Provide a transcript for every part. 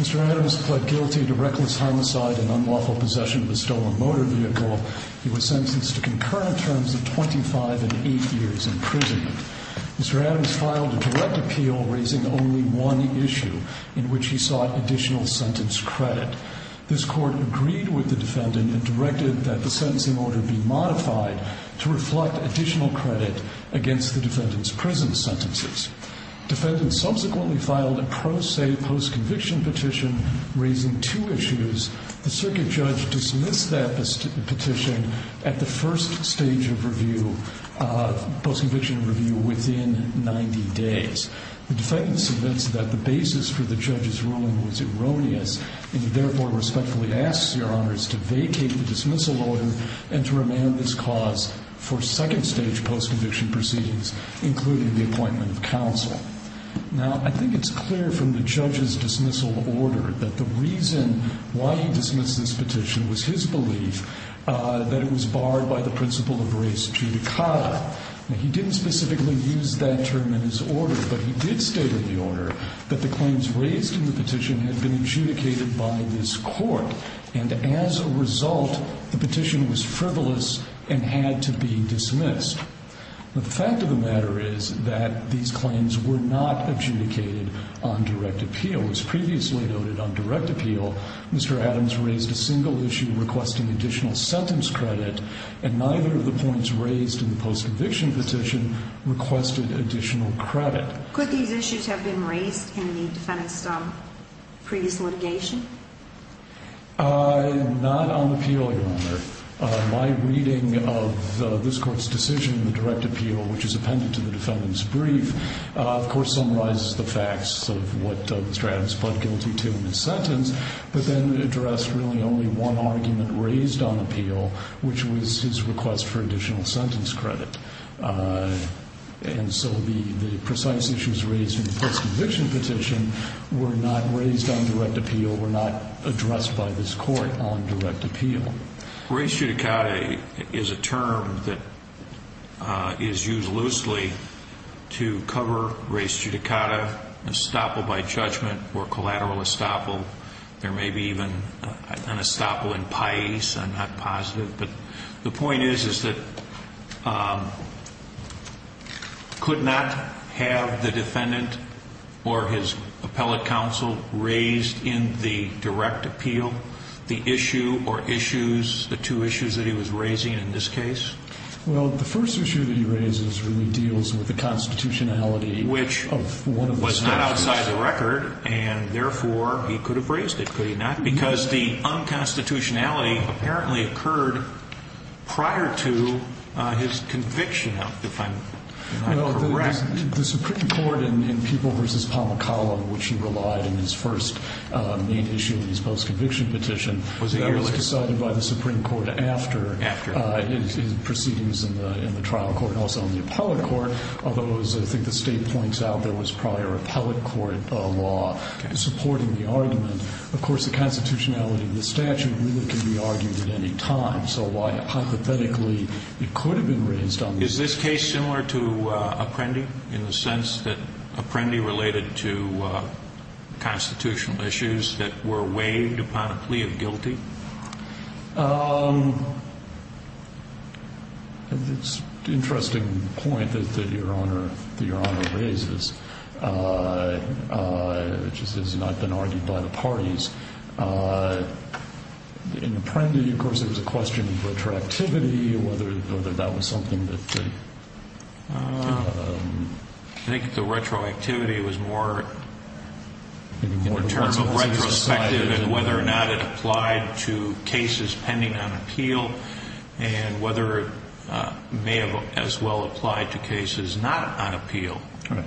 Mr. Adams pled guilty to reckless homicide and unlawful possession of a stolen motor vehicle. He was sentenced to concurrent terms of 25 and 8 years in prison. Mr. Adams filed a direct appeal raising only one issue, in which he sought additional sentence credit. This court agreed with the defendant and directed that the sentencing order be modified to reflect additional credit against the defendant's prison sentences. The defendant subsequently filed a pro se post-conviction petition raising two issues. The circuit judge dismissed that petition at the first stage of post-conviction review within 90 days. The defendant suggests that the basis for the judge's ruling was erroneous and he therefore respectfully asks Your Honors to vacate the dismissal order and to remand this cause for second stage post-conviction proceedings including the appointment of counsel. I think it's clear from the judge's dismissal order that the reason why he dismissed this petition was his belief that it was barred by the principle of res judicata. He didn't specifically use that term in his order, but he did state in the order that the claims raised in the petition had been adjudicated by this court. And as a result, the petition was frivolous and had to be dismissed. The fact of the matter is that these claims were not adjudicated on direct appeal. As previously noted on direct appeal, Mr. Adams raised a single issue requesting additional sentence credit, and neither of the points raised in the post-conviction petition requested additional credit. Could these issues have been raised in the defendant's previous litigation? Not on appeal, Your Honor. My reading of this court's decision in the direct appeal, which is appended to the defendant's brief, of course summarizes the facts of what Mr. Adams pled guilty to in his sentence, but then addressed really only one argument raised on appeal, which was his request for additional sentence credit. And so the precise issues raised in the post-conviction petition were not raised on direct appeal, were not addressed by this court on direct appeal. Res judicata is a term that is used loosely to cover res judicata, estoppel by judgment, or collateral estoppel. There may be even an estoppel in paes, I'm not positive. But the point is that could not have the defendant or his appellate counsel raised in the direct appeal the issue or issues, the two issues that he was raising in this case? Well, the first issue that he raises really deals with the constitutionality of one of the statutes. Which was not outside the record, and therefore he could have raised it, could he not? Because the unconstitutionality apparently occurred prior to his conviction, if I'm correct. The Supreme Court in People v. Pamacala, which he relied on in his first main issue of his post-conviction petition, was decided by the Supreme Court after his proceedings in the trial court, also in the appellate court. Although, as I think the State points out, there was prior appellate court law supporting the argument. Of course, the constitutionality of the statute really can be argued at any time. So why hypothetically it could have been raised on this case? Is this case similar to Apprendi in the sense that Apprendi related to constitutional issues that were weighed upon a plea of guilty? It's an interesting point that Your Honor raises. Which has not been argued by the parties. In Apprendi, of course, there was a question of retroactivity, whether that was something that... I think the retroactivity was more, in the terms of retrospective, and whether or not it applied to cases pending on appeal, and whether it may have as well applied to cases not on appeal. And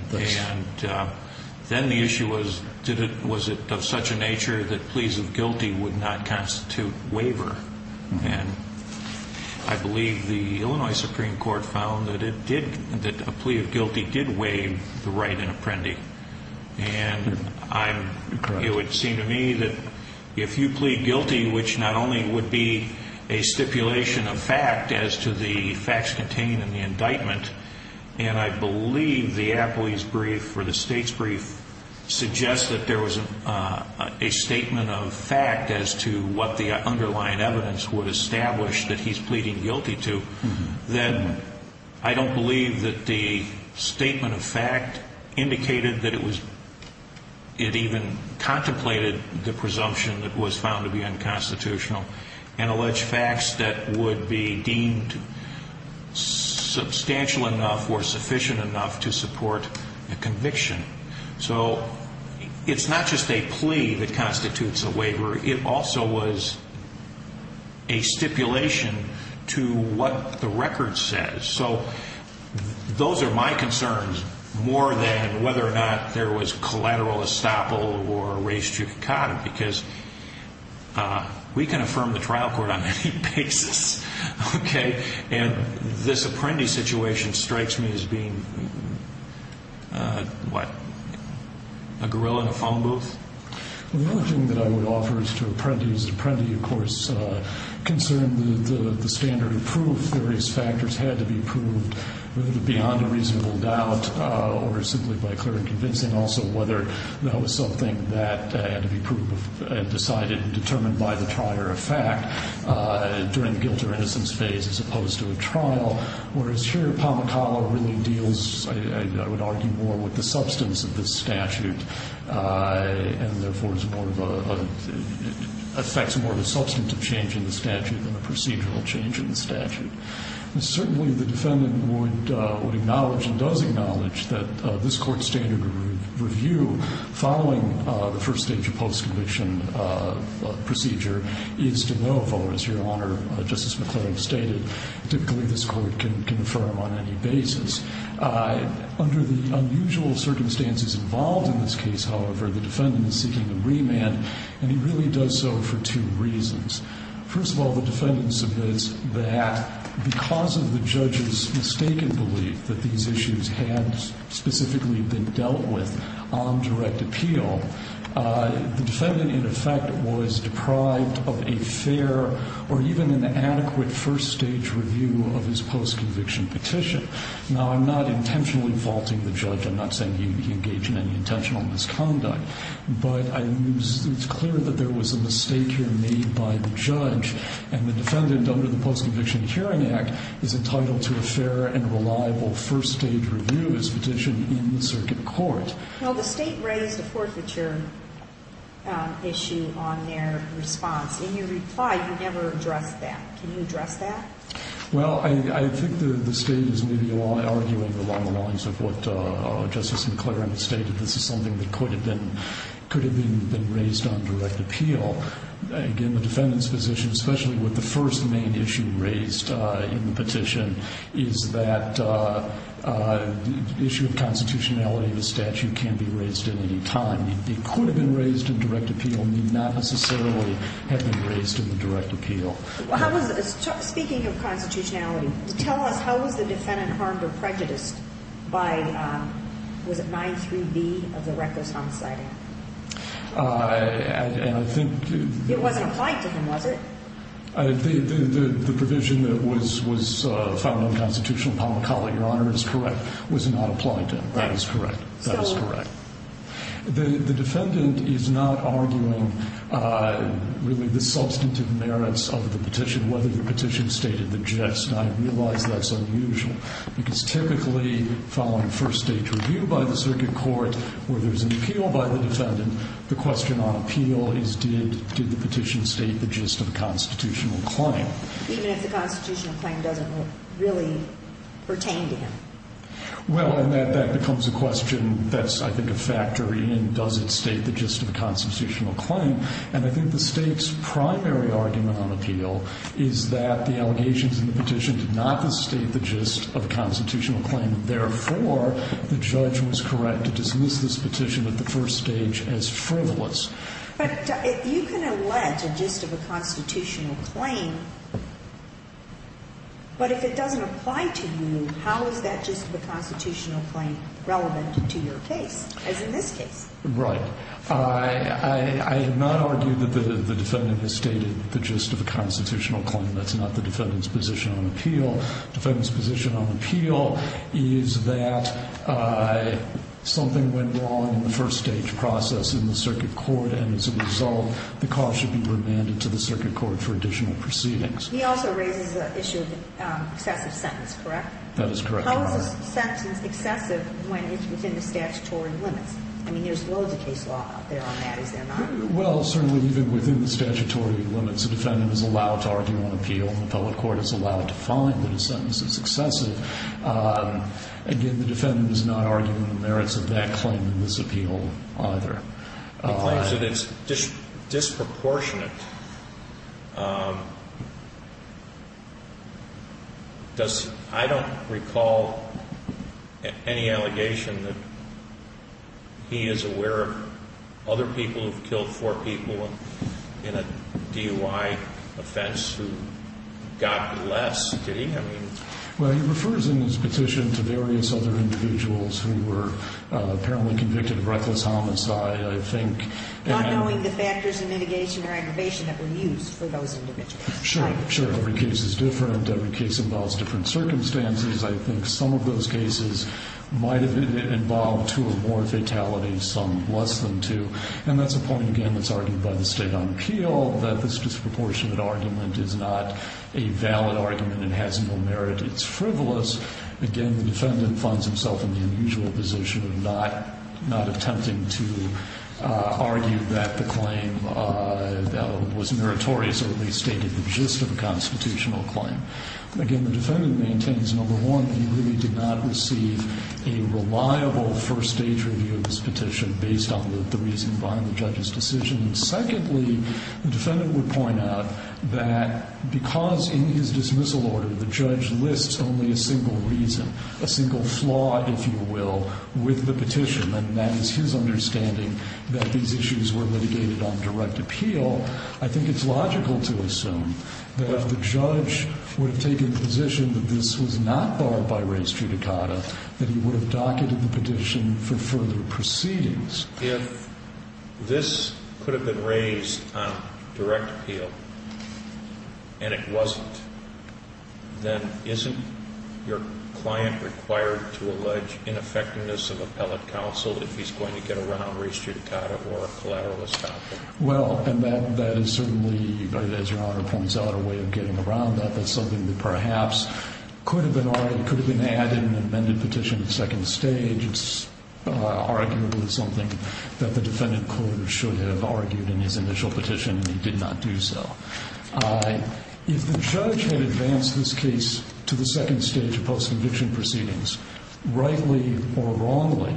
then the issue was, was it of such a nature that pleas of guilty would not constitute waiver? And I believe the Illinois Supreme Court found that a plea of guilty did waive the right in Apprendi. And it would seem to me that if you plead guilty, which not only would be a stipulation of fact as to the facts contained in the indictment, and I believe the appellee's brief or the state's brief suggests that there was a statement of fact as to what the underlying evidence would establish that he's pleading guilty to, then I don't believe that the statement of fact indicated that it was... it even contemplated the presumption that was found to be unconstitutional and alleged facts that would be deemed substantial enough or sufficient enough to support a conviction. So it's not just a plea that constitutes a waiver. It also was a stipulation to what the record says. So those are my concerns more than whether or not there was collateral estoppel or res judicata, because we can affirm the trial court on many bases, okay? And this Apprendi situation strikes me as being, what, a gorilla in a phone booth? Well, the only thing that I would offer is to Apprendi is that Apprendi, of course, concerned the standard of proof. Various factors had to be proved, whether they're beyond a reasonable doubt or simply by clear and convincing, also whether that was something that had to be proved and decided and determined by the prior effect during the guilt or innocence phase as opposed to a trial. Whereas here, Pamacala really deals, I would argue, more with the substance of this statute and, therefore, is more of a... affects more of a substantive change in the statute than a procedural change in the statute. Certainly, the defendant would acknowledge and does acknowledge that this Court's standard of review following the first stage of post-conviction procedure is de novo. As Your Honor, Justice McClellan stated, typically this Court can affirm on any basis. Under the unusual circumstances involved in this case, however, the defendant is seeking a remand, and he really does so for two reasons. First of all, the defendant submits that because of the judge's mistaken belief that these issues had specifically been dealt with on direct appeal, the defendant, in effect, was deprived of a fair or even an adequate first-stage review of his post-conviction petition. Now, I'm not intentionally faulting the judge. I'm not saying he engaged in any intentional misconduct. But it's clear that there was a mistake here made by the judge. And the defendant, under the Post-Conviction Hearing Act, is entitled to a fair and reliable first-stage review of his petition in circuit court. Well, the State raised a forfeiture issue on their response. In your reply, you never addressed that. Can you address that? Well, I think the State is maybe arguing along the lines of what Justice McClellan stated. This is something that could have been raised on direct appeal. Again, the defendant's position, especially with the first main issue raised in the petition, is that the issue of constitutionality of the statute can be raised at any time. It could have been raised in direct appeal and may not necessarily have been raised in the direct appeal. Speaking of constitutionality, tell us how was the defendant harmed or prejudiced by, was it 9.3b of the Recker's Homicide Act? And I think... It wasn't applied to him, was it? The provision that was found unconstitutional, upon recall, Your Honor, is correct, was not applied to him. That is correct. That is correct. The defendant is not arguing, really, the substantive merits of the petition, whether the petition stated the gist. And I realize that's unusual, because typically, following first-stage review by the circuit court, where there's an appeal by the defendant, the question on appeal is, did the petition state the gist of a constitutional claim? Even if the constitutional claim doesn't really pertain to him. Well, and that becomes a question that's, I think, a factor in, does it state the gist of a constitutional claim? And I think the state's primary argument on appeal is that the allegations in the petition did not state the gist of a constitutional claim. Therefore, the judge was correct to dismiss this petition at the first stage as frivolous. But if you can allege a gist of a constitutional claim, but if it doesn't apply to you, how is that gist of a constitutional claim relevant to your case, as in this case? Right. I have not argued that the defendant has stated the gist of a constitutional claim. That's not the defendant's position on appeal. The defendant's position on appeal is that something went wrong in the first-stage process in the circuit court, and as a result, the cause should be remanded to the circuit court for additional proceedings. He also raises the issue of excessive sentence, correct? That is correct. How is a sentence excessive when it's within the statutory limits? I mean, there's loads of case law out there on that, is there not? Well, certainly even within the statutory limits, a defendant is allowed to argue on appeal, and the public court is allowed to find that a sentence is excessive. Again, the defendant is not arguing the merits of that claim in this appeal either. He claims that it's disproportionate. I don't recall any allegation that he is aware of other people who have killed four people in a DUI offense who got less, did he? Well, he refers in his petition to various other individuals who were apparently convicted of reckless homicide, I think. Not knowing the factors of mitigation or aggravation that were used for those individuals. Sure, sure. Every case is different. Every case involves different circumstances. I think some of those cases might have involved two or more fatalities, some less than two. And that's a point, again, that's argued by the State on Appeal, that this disproportionate argument is not a valid argument and has no merit. It's frivolous. Again, the defendant finds himself in the unusual position of not attempting to argue that the claim was meritorious or at least stated the gist of a constitutional claim. Again, the defendant maintains, number one, that he really did not receive a reliable first-stage review of this petition based on the reason behind the judge's decision. Secondly, the defendant would point out that because in his dismissal order the judge lists only a single reason, a single flaw, if you will, with the petition, and that is his understanding that these issues were litigated on direct appeal, I think it's logical to assume that if the judge would have taken the position that this was not barred by res judicata, that he would have docketed the petition for further proceedings. If this could have been raised on direct appeal and it wasn't, then isn't your client required to allege ineffectiveness of appellate counsel if he's going to get around res judicata or a collateral estoppel? Well, and that is certainly, as Your Honor points out, a way of getting around that. That's something that perhaps could have been added in an amended petition at second stage. It's arguably something that the defendant court should have argued in his initial petition, and he did not do so. If the judge had advanced this case to the second stage of post-conviction proceedings, rightly or wrongly,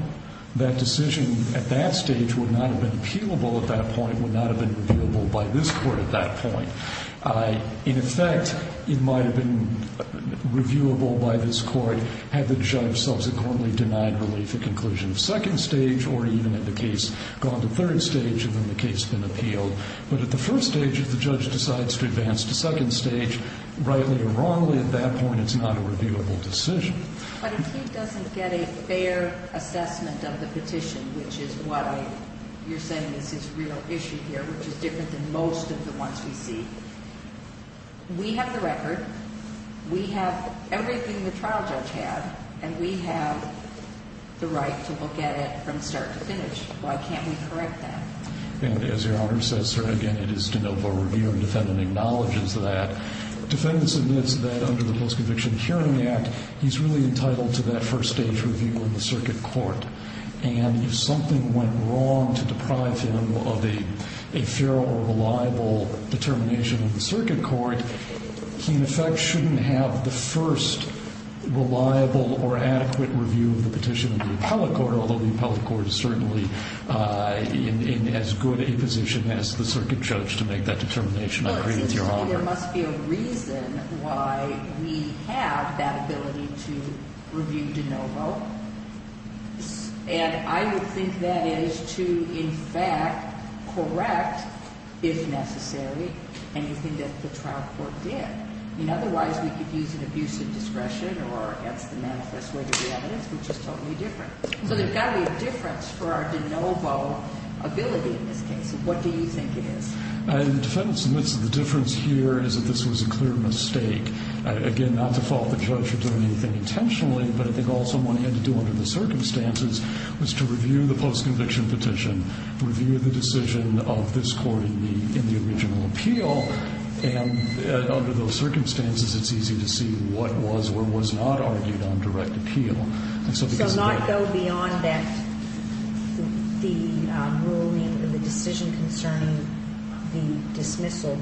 that decision at that stage would not have been appealable at that point, would not have been reviewable by this court at that point. In effect, it might have been reviewable by this court had the judge subsequently denied relief at conclusion of second stage or even had the case gone to third stage and then the case been appealed. But at the first stage, if the judge decides to advance to second stage, rightly or wrongly, at that point it's not a reviewable decision. But if he doesn't get a fair assessment of the petition, which is why you're saying this is real issue here, which is different than most of the ones we see, we have the record, we have everything the trial judge had, and we have the right to look at it from start to finish. Why can't we correct that? And as Your Honor says, sir, again, it is de novo review. The defendant acknowledges that. The defendant admits that under the Post-Conviction Hearing Act, he's really entitled to that first stage review in the circuit court. And if something went wrong to deprive him of a fair or reliable determination in the circuit court, he in effect shouldn't have the first reliable or adequate review of the petition in the appellate court, although the appellate court is certainly in as good a position as the circuit judge to make that determination. I agree with Your Honor. I think there must be a reason why we have that ability to review de novo. And I would think that is to in fact correct, if necessary, anything that the trial court did. I mean, otherwise we could use an abuse of discretion or against the manifest way to the evidence, which is totally different. So there's got to be a difference for our de novo ability in this case. What do you think it is? The defendant admits that the difference here is that this was a clear mistake. Again, not to fault the judge for doing anything intentionally, but I think all someone had to do under the circumstances was to review the post-conviction petition, review the decision of this court in the original appeal, and under those circumstances it's easy to see what was or was not argued on direct appeal. So not go beyond that, the ruling or the decision concerning the dismissal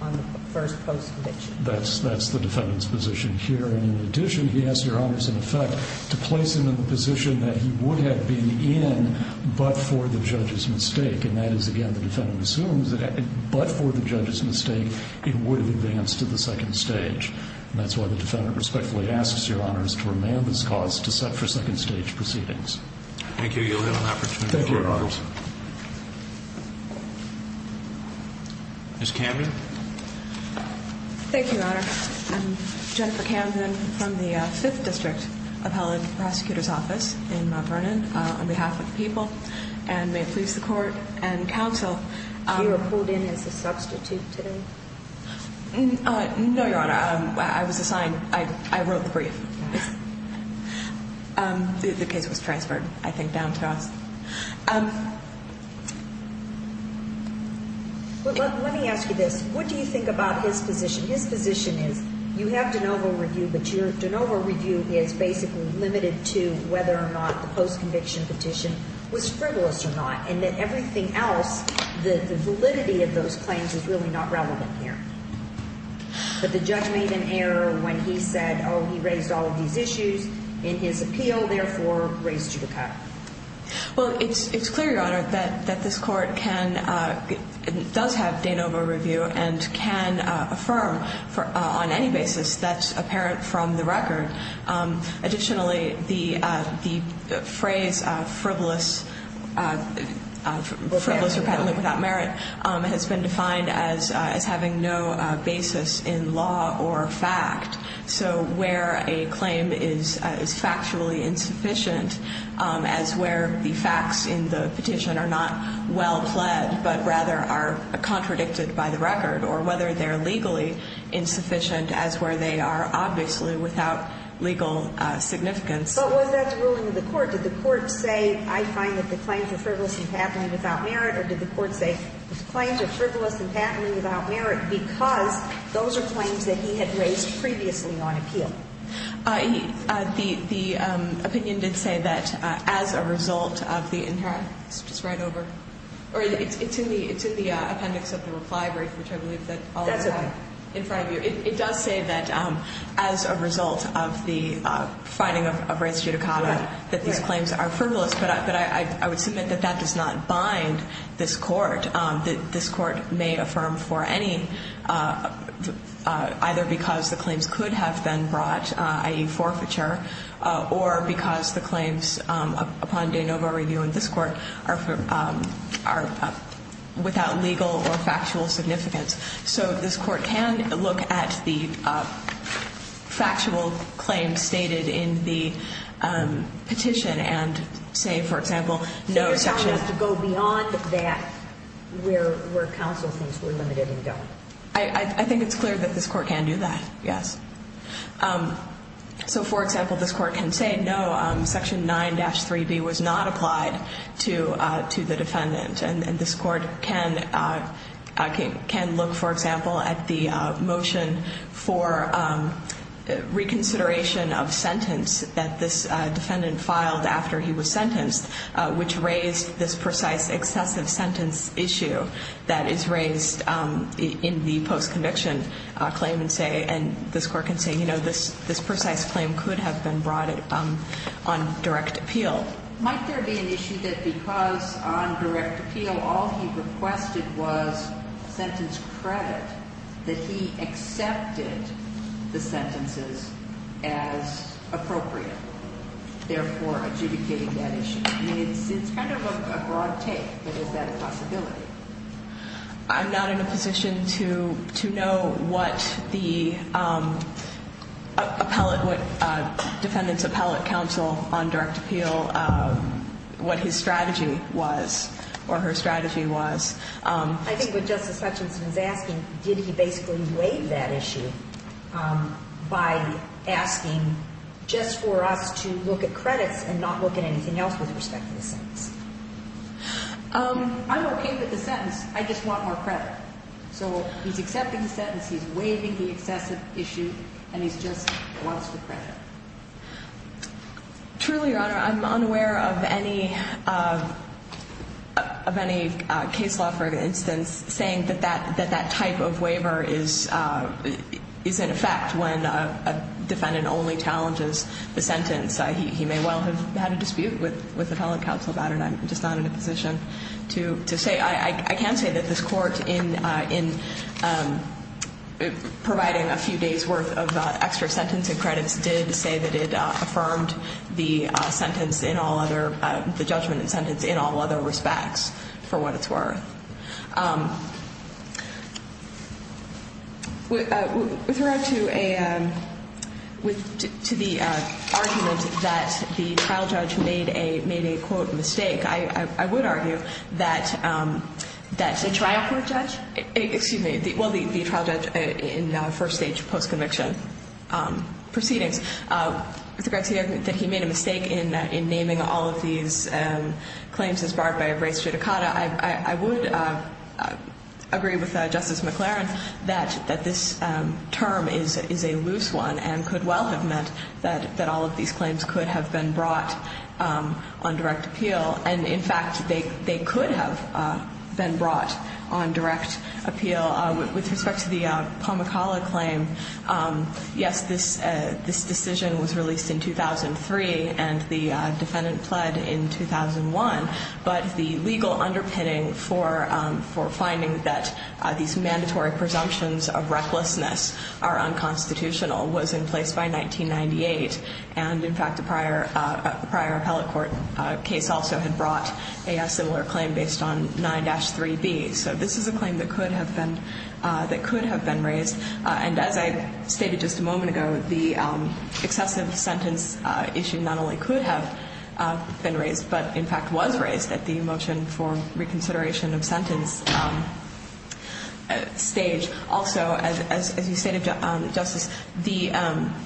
on the first post-conviction? That's the defendant's position here. And in addition, he has, Your Honors, in effect to place him in the position that he would have been in but for the judge's mistake. And that is, again, the defendant assumes that but for the judge's mistake it would have advanced to the second stage. And that's why the defendant respectfully asks, Your Honors, to remand this cause to set for second stage proceedings. Thank you. You'll get an opportunity. Thank you, Your Honors. Ms. Camden? Thank you, Your Honor. I'm Jennifer Camden from the Fifth District Appellate Prosecutor's Office in Mount Vernon. On behalf of the people and may it please the Court and counsel. You were pulled in as a substitute today? No, Your Honor. I was assigned. I wrote the brief. The case was transferred, I think, down to us. Let me ask you this. What do you think about his position? His position is you have de novo review, but your de novo review is basically limited to whether or not the post-conviction petition was frivolous or not. And that everything else, the validity of those claims is really not relevant here. But the judge made an error when he said, oh, he raised all of these issues in his appeal, therefore raised you to cut. Well, it's clear, Your Honor, that this Court can, does have de novo review and can affirm on any basis that's apparent from the record. Additionally, the phrase frivolous, frivolous or patently without merit, has been defined as having no basis in law or fact. So where a claim is factually insufficient, as where the facts in the petition are not well-pled, but rather are contradicted by the record. Or whether they're legally insufficient, as where they are, obviously, without legal significance. But was that the ruling of the Court? Did the Court say, I find that the claims are frivolous and patently without merit? Or did the Court say, the claims are frivolous and patently without merit because those are claims that he had raised previously on appeal? The opinion did say that as a result of the inherent, just right over, or it's in the appendix of the reply brief, which I believe is in the appendix. That's okay. In front of you. It does say that as a result of the finding of rens judicata that these claims are frivolous. But I would submit that that does not bind this Court. This Court may affirm for any, either because the claims could have been brought, i.e., forfeiture, or because the claims upon de novo review in this Court are without legal or factual significance. So this Court can look at the factual claims stated in the petition and say, for example, no section. So you're telling us to go beyond that where counsel thinks we're limited in going? I think it's clear that this Court can do that, yes. So, for example, this Court can say no, section 9-3B was not applied to the defendant. And this Court can look, for example, at the motion for reconsideration of sentence that this defendant filed after he was sentenced, which raised this precise excessive sentence issue that is raised in the post-conviction claim and say, and this Court can say, you know, this precise claim could have been brought on direct appeal. Might there be an issue that because on direct appeal all he requested was sentence credit, that he accepted the sentences as appropriate, therefore adjudicating that issue? I mean, it's kind of a broad take, but is that a possibility? I'm not in a position to know what the defendant's appellate counsel on direct appeal, what his strategy was or her strategy was. I think what Justice Hutchinson is asking, did he basically waive that issue by asking just for us to look at credits and not look at anything else with respect to the sentence? I'm okay with the sentence, I just want more credit. So he's accepting the sentence, he's waiving the excessive issue, and he just wants the credit. Truly, Your Honor, I'm unaware of any case law, for instance, saying that that type of waiver is in effect when a defendant only challenges the sentence. He may well have had a dispute with appellate counsel about it. I'm just not in a position to say. I can say that this Court, in providing a few days' worth of extra sentencing credits, did say that it affirmed the sentence in all other – the judgment and sentence in all other respects for what it's worth. With regard to a – to the argument that the trial judge made a – made a, quote, mistake, I would argue that the trial court judge – excuse me, well, the trial judge in first-stage post-conviction proceedings. With regard to the argument that he made a mistake in naming all of these claims as barred by a race judicata, I would agree with Justice McLaren that this term is a loose one and could well have meant that all of these claims could have been brought on direct appeal. And, in fact, they – they could have been brought on direct appeal. With respect to the Pamukkala claim, yes, this – this decision was released in 2003 and the defendant pled in 2001. But the legal underpinning for – for finding that these mandatory presumptions of recklessness are unconstitutional was in place by 1998. And, in fact, a prior – a prior appellate court case also had brought a similar claim based on 9-3B. So this is a claim that could have been – that could have been raised. And as I stated just a moment ago, the excessive sentence issue not only could have been raised but, in fact, was raised at the motion for reconsideration of sentence stage. Also, as you stated, Justice, the –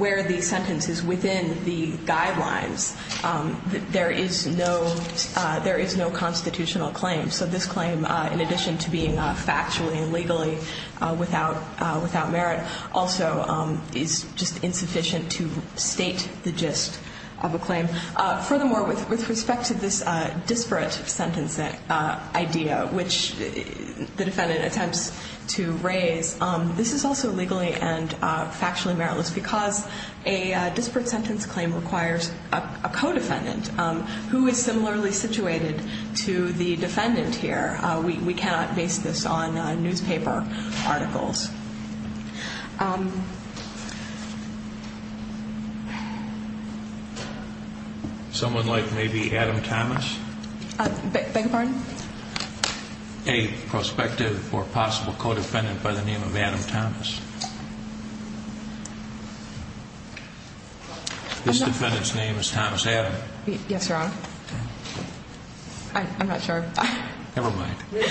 where the sentence is within the guidelines, there is no – there is no constitutional claim. So this claim, in addition to being factually and legally without – without merit, also is just insufficient to state the gist of a claim. Furthermore, with respect to this disparate sentence idea, which the defendant attempts to raise, this is also legally and factually meritless because a disparate sentence claim requires a co-defendant who is similarly situated to the defendant here. We cannot base this on newspaper articles. Someone like maybe Adam Thomas? Beg your pardon? A prospective or possible co-defendant by the name of Adam Thomas. This defendant's name is Thomas Adam. Yes, Your Honor. I'm not sure. Never mind. Does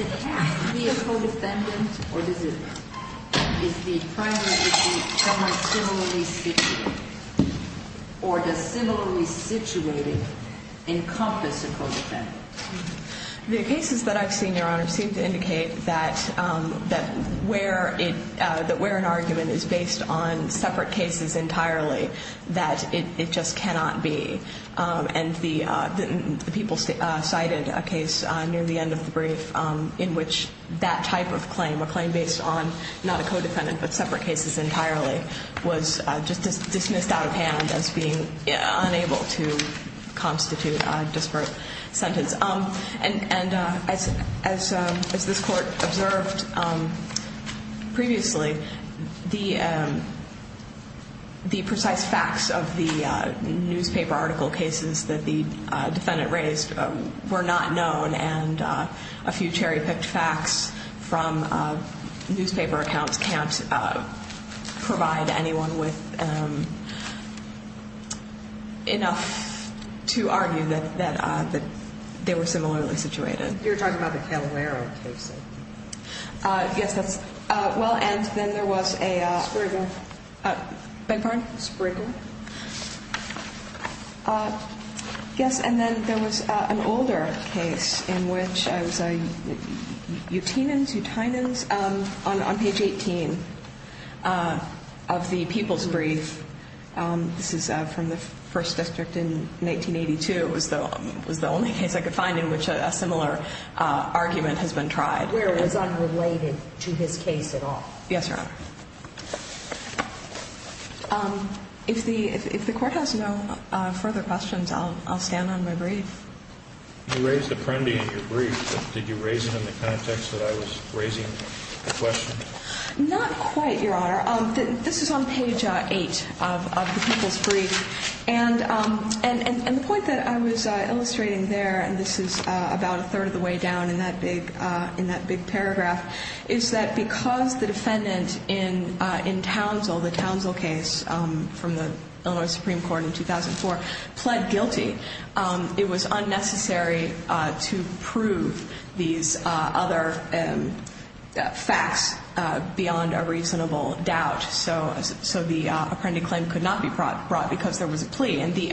it have to be a co-defendant or does it – is the primary dispute somewhat similarly situated? Or does similarly situated encompass a co-defendant? The cases that I've seen, Your Honor, seem to indicate that where it – that where an argument is based on separate cases entirely, that it just cannot be. And the people cited a case near the end of the brief in which that type of claim, a claim based on not a co-defendant but separate cases entirely, was just dismissed out of hand as being unable to constitute a disparate sentence. And as this Court observed previously, the precise facts of the newspaper article cases that the defendant raised were not known. And a few cherry-picked facts from newspaper accounts can't provide anyone with enough to argue that they were similarly situated. You're talking about the Caloero case. Yes, that's – well, and then there was a – Spriggan. Beg your pardon? Spriggan. Yes, and then there was an older case in which it was a Utenans, Utenans, on page 18 of the people's brief. This is from the First District in 1982. It was the only case I could find in which a similar argument has been tried. Where it was unrelated to his case at all? Yes, Your Honor. If the – if the Court has no further questions, I'll stand on my brief. You raised the Prendi in your brief, but did you raise it in the context that I was raising the question? Not quite, Your Honor. This is on page 8 of the people's brief. And the point that I was illustrating there, and this is about a third of the way down in that big paragraph, is that because the defendant in Townsville, the Townsville case from the Illinois Supreme Court in 2004, pled guilty, it was unnecessary to prove these other facts beyond a reasonable doubt. So the Prendi claim could not be brought because there was a plea. And the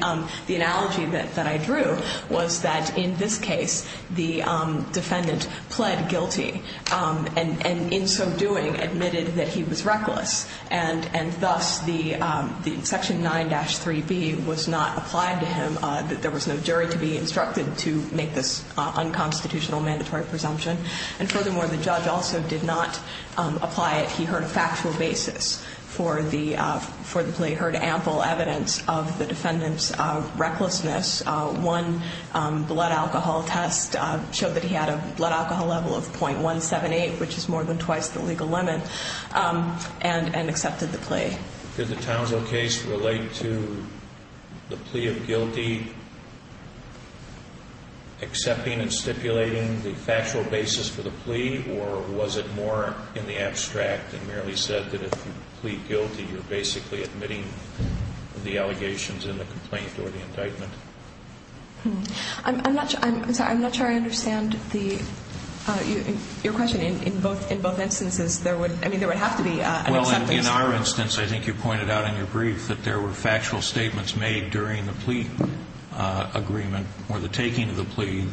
analogy that I drew was that in this case, the defendant pled guilty and in so doing admitted that he was reckless. And thus, the section 9-3b was not applied to him, that there was no jury to be instructed to make this unconstitutional mandatory presumption. And furthermore, the judge also did not apply it. He heard a factual basis for the plea, heard ample evidence of the defendant's recklessness. One blood alcohol test showed that he had a blood alcohol level of .178, which is more than twice the legal limit, and accepted the plea. Did the Townsville case relate to the plea of guilty, accepting and stipulating the factual basis for the plea, or was it more in the abstract and merely said that if you plead guilty, you're basically admitting the allegations in the complaint or the indictment? I'm not sure I understand your question. In both instances, there would have to be an acceptance. Well, in our instance, I think you pointed out in your brief that there were factual statements made during the plea agreement or the taking of the plea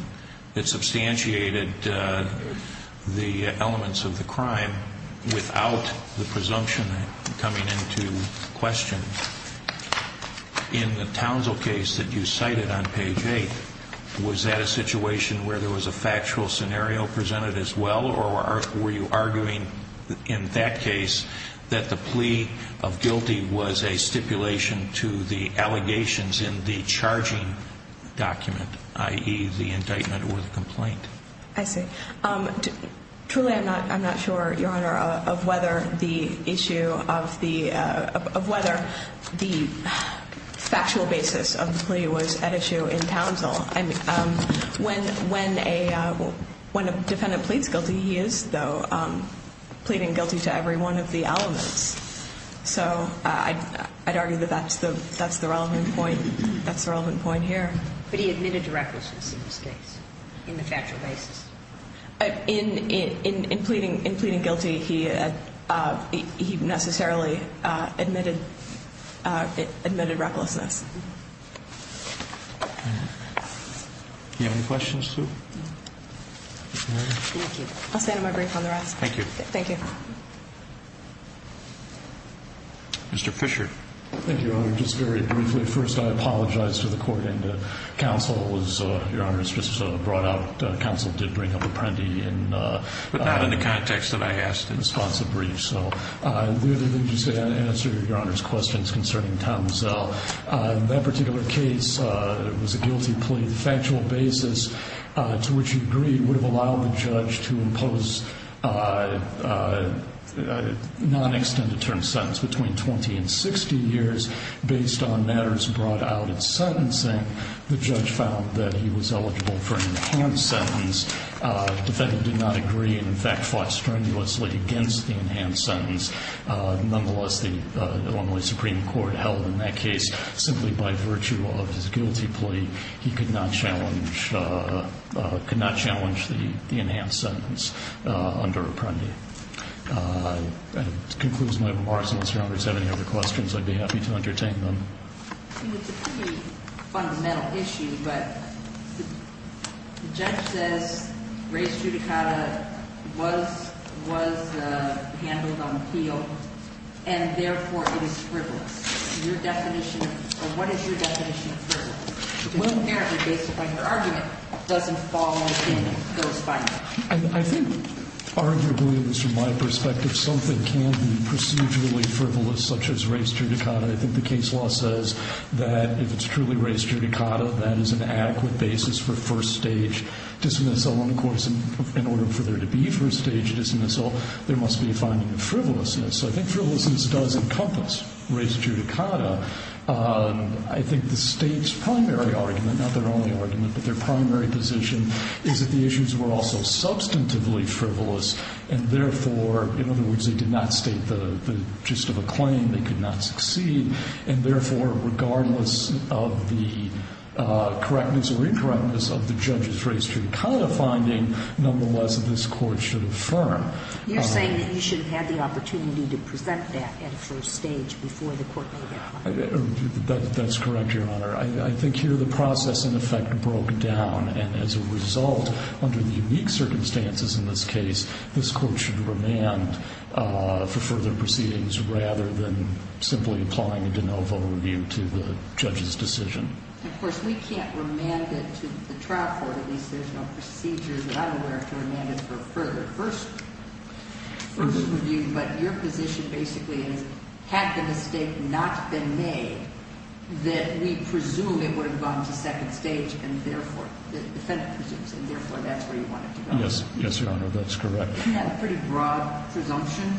that substantiated the elements of the crime without the presumption coming into question. In the Townsville case that you cited on page 8, was that a situation where there was a factual scenario presented as well, or were you arguing in that case that the plea of guilty was a stipulation to the allegations in the charging document, i.e., the indictment or the complaint? I see. Truly, I'm not sure, Your Honor, of whether the issue of the – of whether the factual basis of the plea was at issue in Townsville. I mean, when a defendant pleads guilty, he is, though, pleading guilty to every one of the elements. So I'd argue that that's the relevant point. That's the relevant point here. But he admitted to recklessness in this case, in the factual basis? In pleading guilty, he necessarily admitted recklessness. Do you have any questions, too? No. Thank you. I'll stand on my brief on the rest. Thank you. Thank you. Mr. Fisher. Thank you, Your Honor. Just very briefly, first, I apologize to the Court and to counsel. It was – Your Honor, it was just brought out. Counsel did bring up Apprendi in – But not in the context that I asked in response to the brief. So the other thing to say, I answer Your Honor's questions concerning Townsville. In that particular case, it was a guilty plea. The factual basis to which he agreed would have allowed the judge to impose a non-extended term sentence between 20 and 60 years. Based on matters brought out in sentencing, the judge found that he was eligible for an enhanced sentence. The defendant did not agree and, in fact, fought strenuously against the enhanced sentence. Nonetheless, the Illinois Supreme Court held in that case, simply by virtue of his guilty plea, he could not challenge the enhanced sentence under Apprendi. That concludes my remarks. Mr. Roberts, do you have any other questions? I'd be happy to entertain them. It's a pretty fundamental issue, but the judge says race judicata was handled on appeal and, therefore, it is frivolous. Your definition – or what is your definition of frivolous? Well, apparently, based upon your argument, it doesn't fall within those findings. I think, arguably, at least from my perspective, something can be procedurally frivolous, such as race judicata. I think the case law says that if it's truly race judicata, that is an adequate basis for first-stage dismissal. And, of course, in order for there to be first-stage dismissal, there must be a finding of frivolousness. So I think frivolousness does encompass race judicata. I think the State's primary argument – not their only argument, but their primary position – is that the issues were also substantively frivolous and, therefore – in other words, they did not state the gist of a claim. They could not succeed. And, therefore, regardless of the correctness or incorrectness of the judge's race judicata finding, nonetheless, this Court should affirm. You're saying that you should have had the opportunity to present that at first stage before the Court made that finding. That's correct, Your Honor. I think here the process, in effect, broke down. And as a result, under the unique circumstances in this case, this Court should remand for further proceedings rather than simply applying a de novo review to the judge's decision. And, of course, we can't remand it to the trial court. At least there's no procedure that I'm aware of to remand it for a further first review. But your position basically is, had the mistake not been made, that we presume it would have gone to second stage and, therefore, the defendant presumes it, and, therefore, that's where you want it to go. Yes, Your Honor. That's correct. Isn't that a pretty broad presumption?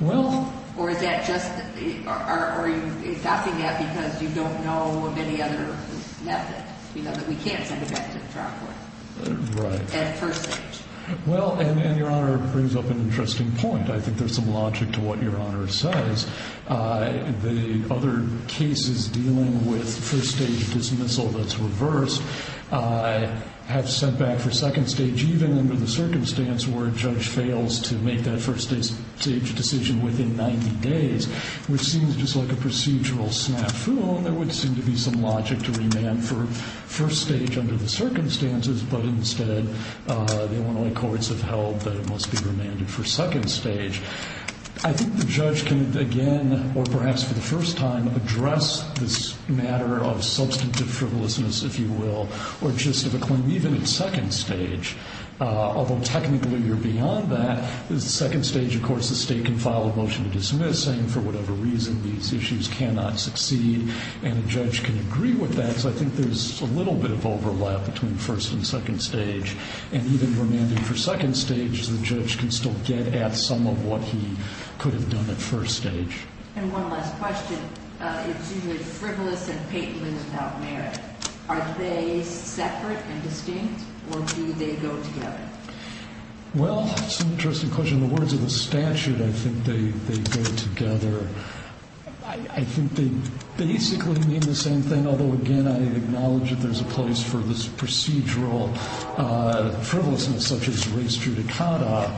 Well – Or is that just – are you adopting that because you don't know of any other method? You know that we can't send it back to the trial court. Right. At first stage. Well, and Your Honor brings up an interesting point. I think there's some logic to what Your Honor says. The other cases dealing with first stage dismissal that's reversed have sent back for second stage, even under the circumstance where a judge fails to make that first stage decision within 90 days, which seems just like a procedural snafu, and there would seem to be some logic to remand for first stage under the circumstances, but instead the Illinois courts have held that it must be remanded for second stage. I think the judge can, again, or perhaps for the first time, address this matter of substantive frivolousness, if you will, or just of a claim even at second stage, although technically you're beyond that. At second stage, of course, the state can file a motion to dismiss, saying for whatever reason these issues cannot succeed, and a judge can agree with that, so I think there's a little bit of overlap between first and second stage, and even remanding for second stage, the judge can still get at some of what he could have done at first stage. And one last question. It's usually frivolous and patently without merit. Are they separate and distinct, or do they go together? Well, it's an interesting question. In the words of the statute, I think they go together. I think they basically mean the same thing, although, again, I acknowledge that there's a place for this procedural frivolousness such as race judicata,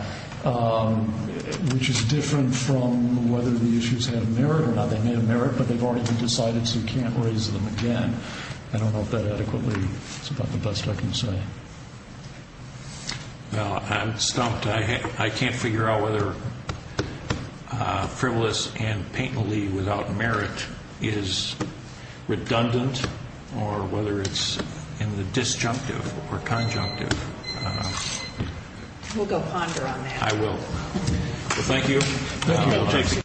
which is different from whether the issues have merit or not. They may have merit, but they've already been decided, so you can't raise them again. I don't know if that adequately is about the best I can say. Well, I'm stumped. I can't figure out whether frivolous and patently without merit is redundant or whether it's in the disjunctive or conjunctive. We'll go ponder on that. I will. Thank you.